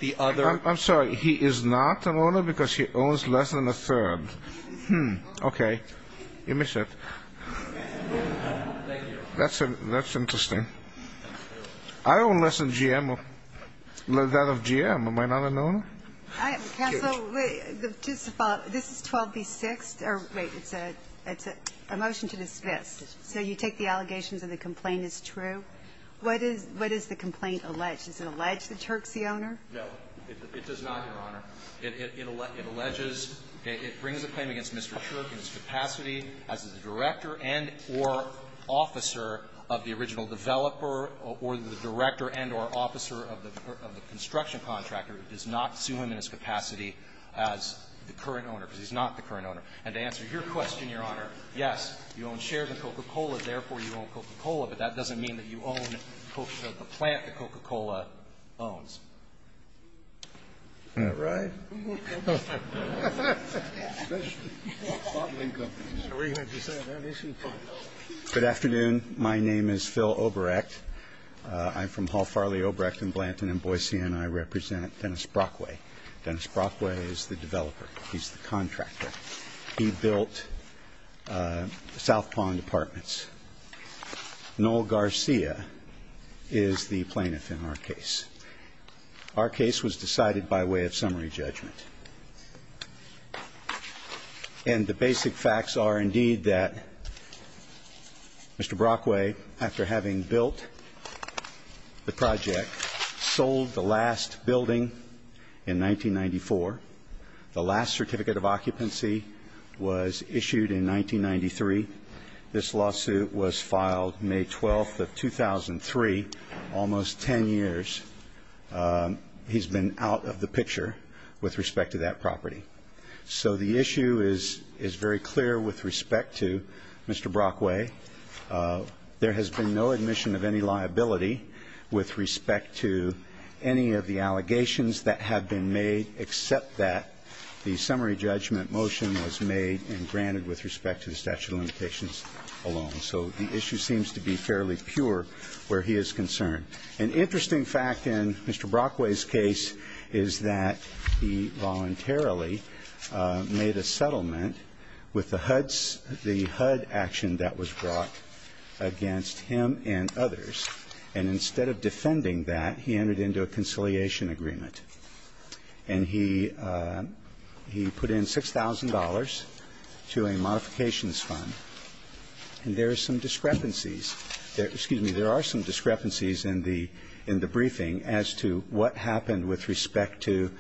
the other ---- I'm sorry. He is not an owner because he owns less than a third. Hmm. Okay. You missed it. Thank you. I own less than GM. That of GM. Am I not an owner? Counsel, just to follow up. This is 12B6. Wait. It's a motion to dismiss. So you take the allegations that the complaint is true. What is the complaint alleged? Does it allege that Turk's the owner? No, it does not, Your Honor. It alleges ---- it brings a claim against Mr. Turk in his capacity as the director and or officer of the original developer or the director and or officer of the construction contractor who does not sue him in his capacity as the current owner because he's not the current owner. And to answer your question, Your Honor, yes, you own shares of Coca-Cola, therefore you own Coca-Cola, but that doesn't mean that you own the plant that Coca-Cola owns. All right. Good afternoon. My name is Phil Obrecht. I'm from Hall Farley, Obrecht & Blanton, and Boise, and I represent Dennis Brockway. Dennis Brockway is the developer. He's the contractor. He built South Pond Apartments. Noel Garcia is the plaintiff in our case. Our case was decided by way of summary judgment. And the basic facts are, indeed, that Mr. Brockway, after having built the project, sold the last building in 1994. The last certificate of occupancy was issued in 1993. This lawsuit was filed May 12th of 2003, almost 10 years. He's been out of the picture with respect to that property. So the issue is very clear with respect to Mr. Brockway. There has been no admission of any liability with respect to any of the allegations that have been made, except that the summary judgment motion was made and granted with respect to the statute of limitations alone. So the issue seems to be fairly pure where he is concerned. An interesting fact in Mr. Brockway's case is that he voluntarily made a settlement with the HUD action that was brought against him and others. And instead of defending that, he entered into a conciliation agreement. And he put in $6,000 to a modifications fund. There are some discrepancies in the briefing as to what happened with respect to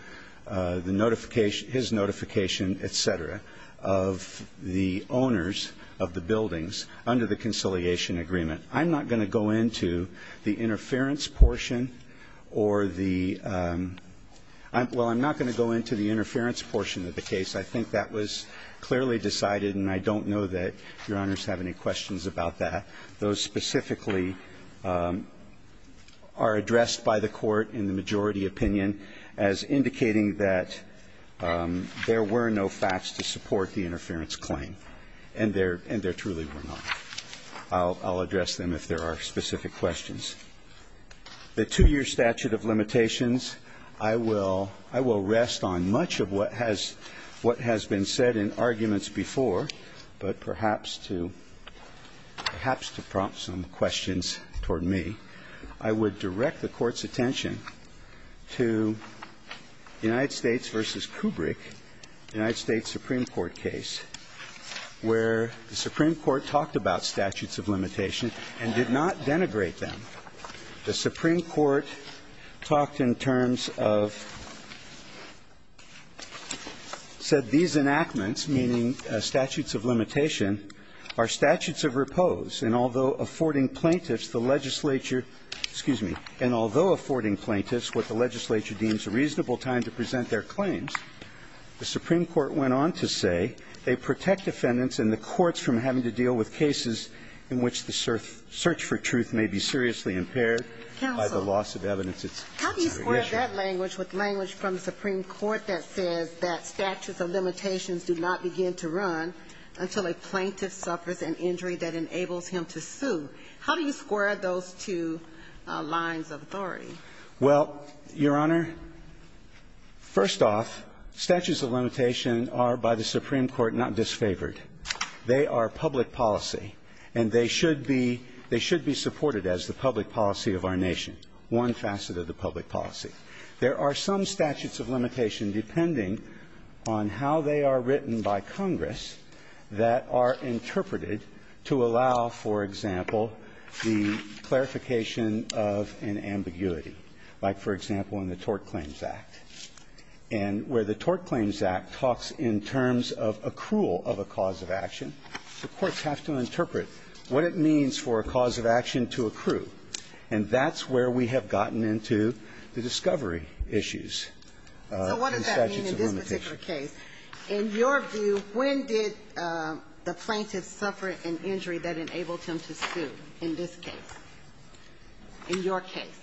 his notification, et cetera, of the owners of the buildings under the conciliation agreement. I'm not going to go into the interference portion of the case. I think that was clearly decided, and I don't know that Your Honors have any questions about that. Those specifically are addressed by the Court in the majority opinion as indicating that there were no facts to support the interference claim, and there truly were not. I'll address them if there are specific questions. The two-year statute of limitations, I will rest on much of what has been said in arguments before, but perhaps to prompt some questions toward me, I would direct the Court's attention to the United States v. Kubrick, the United States Supreme Court case, where the Supreme Court talked about statutes of limitation and did not denigrate them. The Supreme Court talked in terms of said these enactments, meaning statutes of limitation, are statutes of repose. And although affording plaintiffs the legislature, excuse me, and although affording plaintiffs what the legislature deems a reasonable time to present their claims, the Supreme Court went on to say they protect defendants and the courts from having to deal with cases in which the search for truth may be seriously impaired by the loss of evidence. How do you square that language with language from the Supreme Court that says that statutes of limitations do not begin to run until a plaintiff suffers an injury that enables him to sue? How do you square those two lines of authority? Well, Your Honor, first off, statutes of limitation are by the Supreme Court not disfavored. They are public policy, and they should be supported as the public policy of our nation, one facet of the public policy. There are some statutes of limitation, depending on how they are written by Congress, that are interpreted to allow, for example, the clarification of an ambiguity, like, for example, in the Tort Claims Act. And where the Tort Claims Act talks in terms of accrual of a cause of action, the courts have to interpret what it means for a cause of action to accrue. And that's where we have gotten into the discovery issues in statutes of limitation. So what does that mean in this particular case? In your view, when did the plaintiff suffer an injury that enabled him to sue in this case, in your case?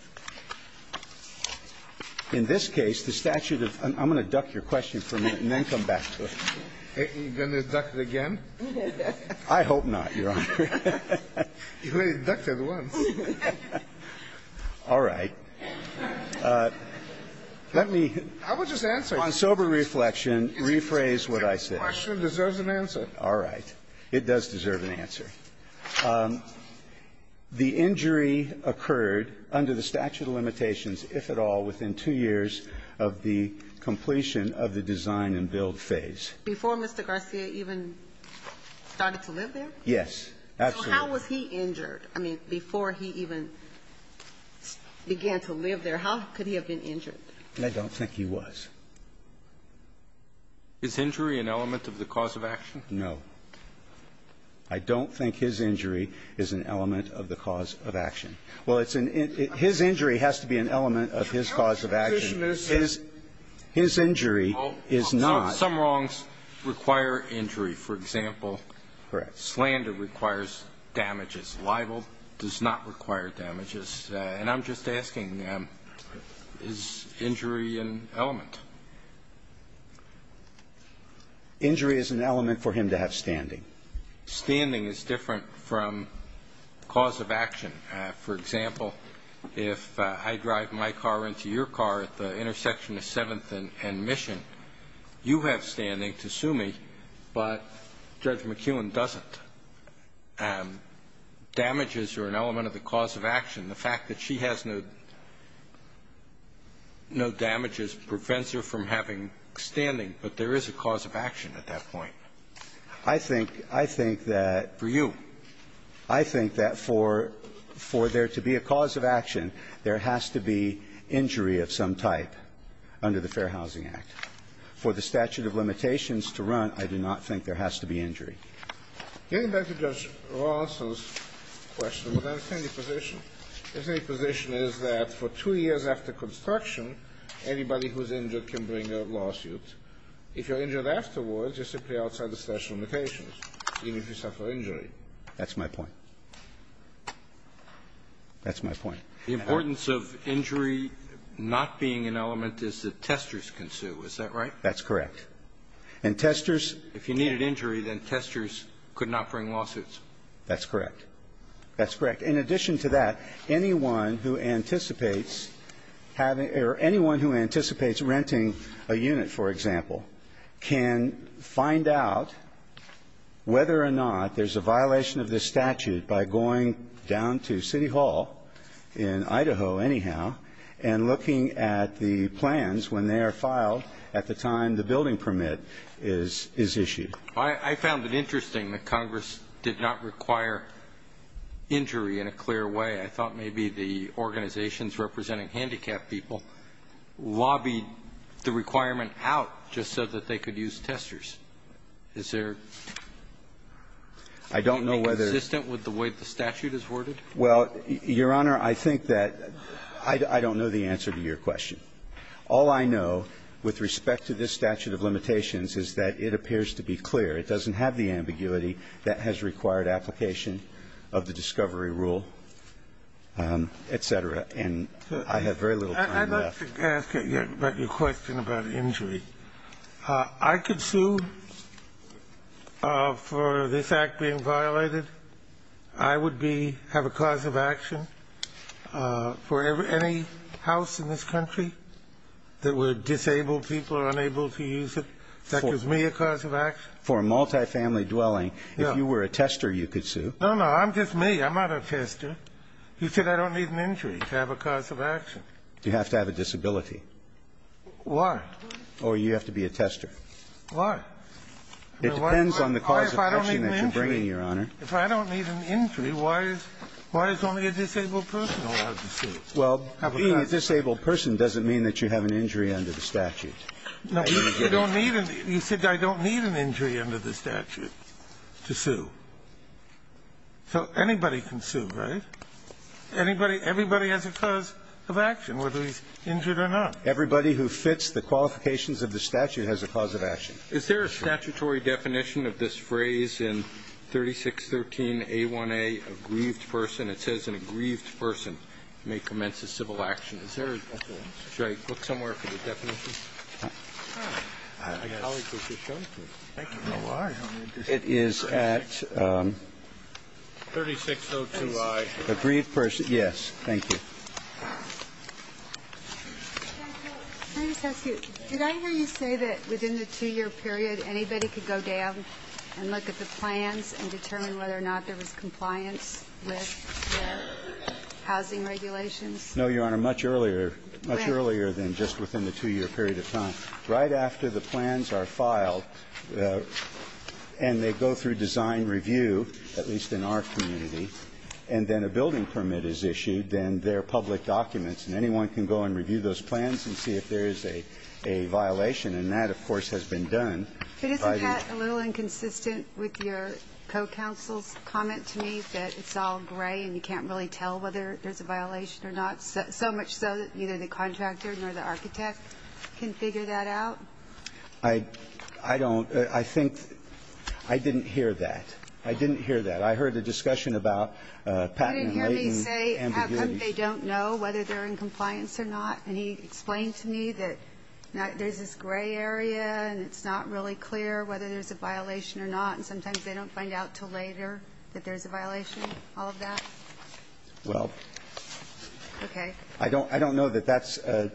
In this case, the statute of — I'm going to duck your question for a minute and then come back to it. Are you going to duck it again? I hope not, Your Honor. You already ducked it once. All right. Let me — I will just answer. On sober reflection, rephrase what I said. The question deserves an answer. All right. It does deserve an answer. The injury occurred under the statute of limitations, if at all, within two years of the completion of the design and build phase. Before Mr. Garcia even started to live there? Yes. Absolutely. So how was he injured? I mean, before he even began to live there, how could he have been injured? I don't think he was. Is injury an element of the cause of action? No. I don't think his injury is an element of the cause of action. Well, it's an — his injury has to be an element of his cause of action. Your position is — His injury is not. Some wrongs require injury. For example — Correct. — slander requires damages. And I'm just asking, is injury an element? Injury is an element for him to have standing. Standing is different from cause of action. For example, if I drive my car into your car at the intersection of 7th and Mission, you have standing to sue me, but Judge McKeown doesn't. Damages are an element of the cause of action. The fact that she has no damages prevents her from having standing, but there is a cause of action at that point. I think that — For you. I think that for there to be a cause of action, there has to be injury of some type under the Fair Housing Act. For the statute of limitations to run, I do not think there has to be injury. Getting back to Judge Rawson's question, would I have any position? His position is that for two years after construction, anybody who's injured can bring a lawsuit. If you're injured afterwards, you're simply outside the statute of limitations, even if you suffer injury. That's my point. That's my point. The importance of injury not being an element is that testers can sue. Is that right? That's correct. And testers — If you needed injury, then testers could not bring lawsuits. That's correct. That's correct. In addition to that, anyone who anticipates having — or anyone who anticipates renting a unit, for example, can find out whether or not there's a violation of this statute by going down to City Hall in Idaho, anyhow, and looking at the plans when they are filed at the time the building permit is issued. I found it interesting that Congress did not require injury in a clear way. I thought maybe the organizations representing handicapped people lobbied the requirement out just so that they could use testers. Is there — I don't know whether —— anything consistent with the way the statute is worded? Well, Your Honor, I think that — I don't know the answer to your question. All I know with respect to this statute of limitations is that it appears to be clear. It doesn't have the ambiguity that has required application of the discovery rule, et cetera. And I have very little time left. I'd like to ask about your question about injury. I could sue for this Act being violated. I would be — have a cause of action for any house in this country that were disabled people or unable to use it. That gives me a cause of action. For a multifamily dwelling, if you were a tester, you could sue. No, no. I'm just me. I'm not a tester. You said I don't need an injury to have a cause of action. You have to have a disability. Why? Or you have to be a tester. Why? It depends on the cause of action that you're bringing, Your Honor. If I don't need an injury, why is only a disabled person allowed to sue? Well, being a disabled person doesn't mean that you have an injury under the statute. No. You said I don't need an injury under the statute to sue. So anybody can sue, right? Everybody has a cause of action, whether he's injured or not. Everybody who fits the qualifications of the statute has a cause of action. Is there a statutory definition of this phrase in 3613A1A, a grieved person? An aggrieved person may commence a civil action. Should I look somewhere for the definition? It is at 3602I, aggrieved person. Yes. Thank you. Did I hear you say that within the two-year period, anybody could go down and look at the plans and determine whether or not there was compliance with their housing regulations? No, Your Honor, much earlier than just within the two-year period of time. Right after the plans are filed and they go through design review, at least in our community, and then a building permit is issued, then they're public documents, and anyone can go and review those plans and see if there is a violation. And that, of course, has been done. But isn't that a little inconsistent with your co-counsel's comment to me, that it's all gray and you can't really tell whether there's a violation or not, so much so that either the contractor or the architect can figure that out? I don't. I think I didn't hear that. I didn't hear that. I heard a discussion about patent and latent ambiguities. You didn't hear me say how come they don't know whether they're in compliance or not? And he explained to me that there's this gray area and it's not really clear whether there's a violation or not, and sometimes they don't find out until later that there's a violation, all of that? Well, I don't know that that's a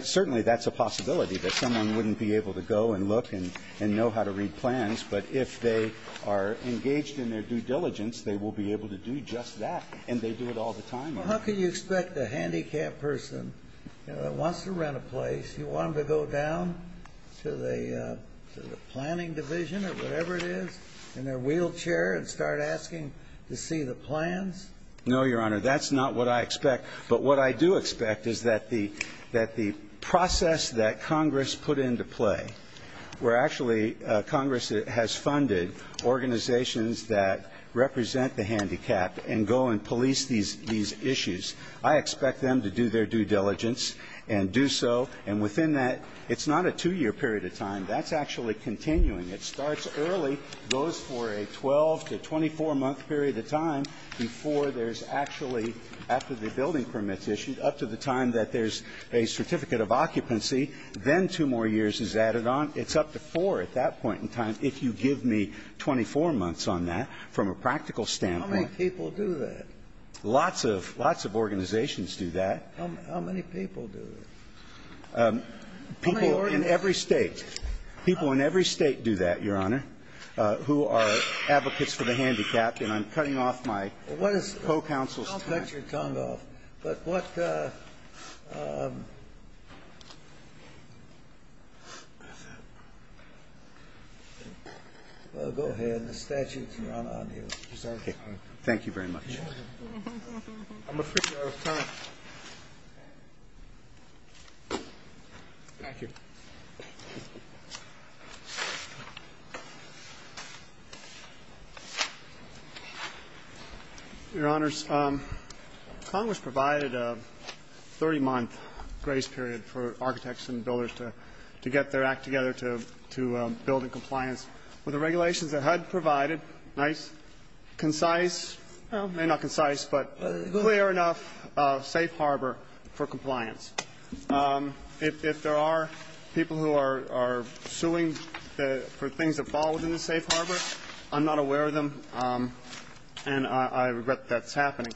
– certainly that's a possibility, that someone wouldn't be able to go and look and know how to read plans. But if they are engaged in their due diligence, they will be able to do just that, and they do it all the time. Well, how can you expect a handicapped person that wants to rent a place, you want them to go down to the planning division or whatever it is in their wheelchair and start asking to see the plans? No, Your Honor, that's not what I expect. But what I do expect is that the process that Congress put into play, where actually Congress has funded organizations that represent the handicapped and go and police these issues, I expect them to do their due diligence and do so. And within that, it's not a two-year period of time. That's actually continuing. It starts early, goes for a 12- to 24-month period of time before there's actually, after the building permit's issued, up to the time that there's a certificate of occupancy, then two more years is added on. It's up to four at that point in time, if you give me 24 months on that, from a practical standpoint. How many people do that? Lots of organizations do that. How many people do that? People in every State. People in every State do that, Your Honor, who are advocates for the handicapped. And I'm cutting off my co-counsel's time. But what go ahead. The statute's not on you. Thank you very much. I'm afraid we're out of time. Thank you. Your Honors, Congress provided a 30-month grace period for architects and builders to get their act together to build in compliance with the regulations that HUD provided, nice, concise, well, maybe not concise, but clear enough, safe harbor for compliance. If there are people who are suing for things that fall within the safe harbor, I'm not aware of them, and I regret that that's happening.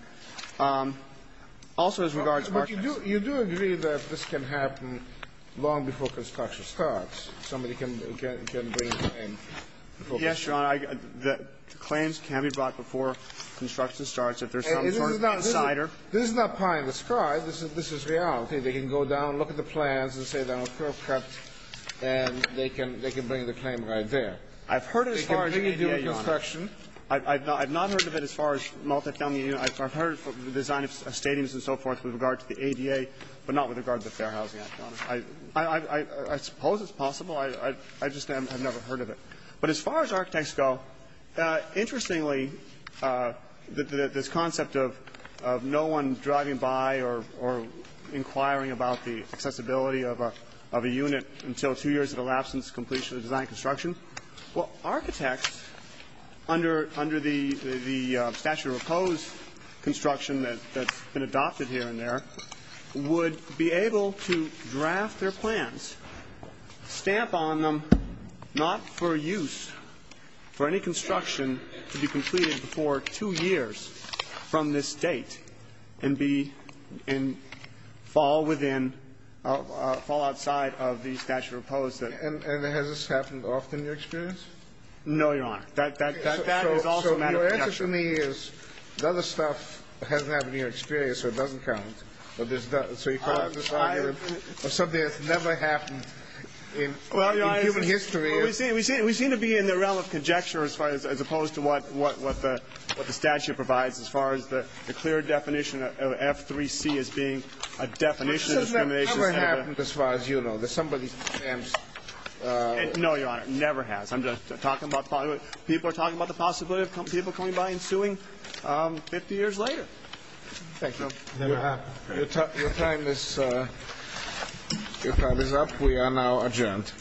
Also, as regards architects. But you do agree that this can happen long before construction starts? Somebody can bring a claim? Yes, Your Honor. Claims can be brought before construction starts. If there's some sort of insider. This is not pie in the sky. This is reality. They can go down, look at the plans, and say they're not perfect, and they can bring the claim right there. I've heard it as far as ADA, Your Honor. I've not heard of it as far as multifamily units. I've heard of the design of stadiums and so forth with regard to the ADA, but not with regard to the Fair Housing Act, Your Honor. I suppose it's possible. I just have never heard of it. But as far as architects go, interestingly, this concept of no one driving by or inquiring about the accessibility of a unit until two years have elapsed since completion of design construction, well, architects, under the statute of opposed construction that's been adopted here and there, would be able to draft their plans, stamp on them, not for use for any construction to be completed before two years from this date and be in fall within, fall outside of the statute of opposed. And has this happened often in your experience? No, Your Honor. That is also a matter of conjecture. So your answer to me is the other stuff hasn't happened in your experience, so it doesn't count. So you call this argument something that's never happened in human history? Well, Your Honor, we seem to be in the realm of conjecture as opposed to what the statute provides as far as the clear definition of F3C as being a definition of discrimination. But this has never happened as far as you know. Somebody stamps. No, Your Honor, never has. People are talking about the possibility of people coming by and suing 50 years later. Thank you. Your time is up. We are now adjourned.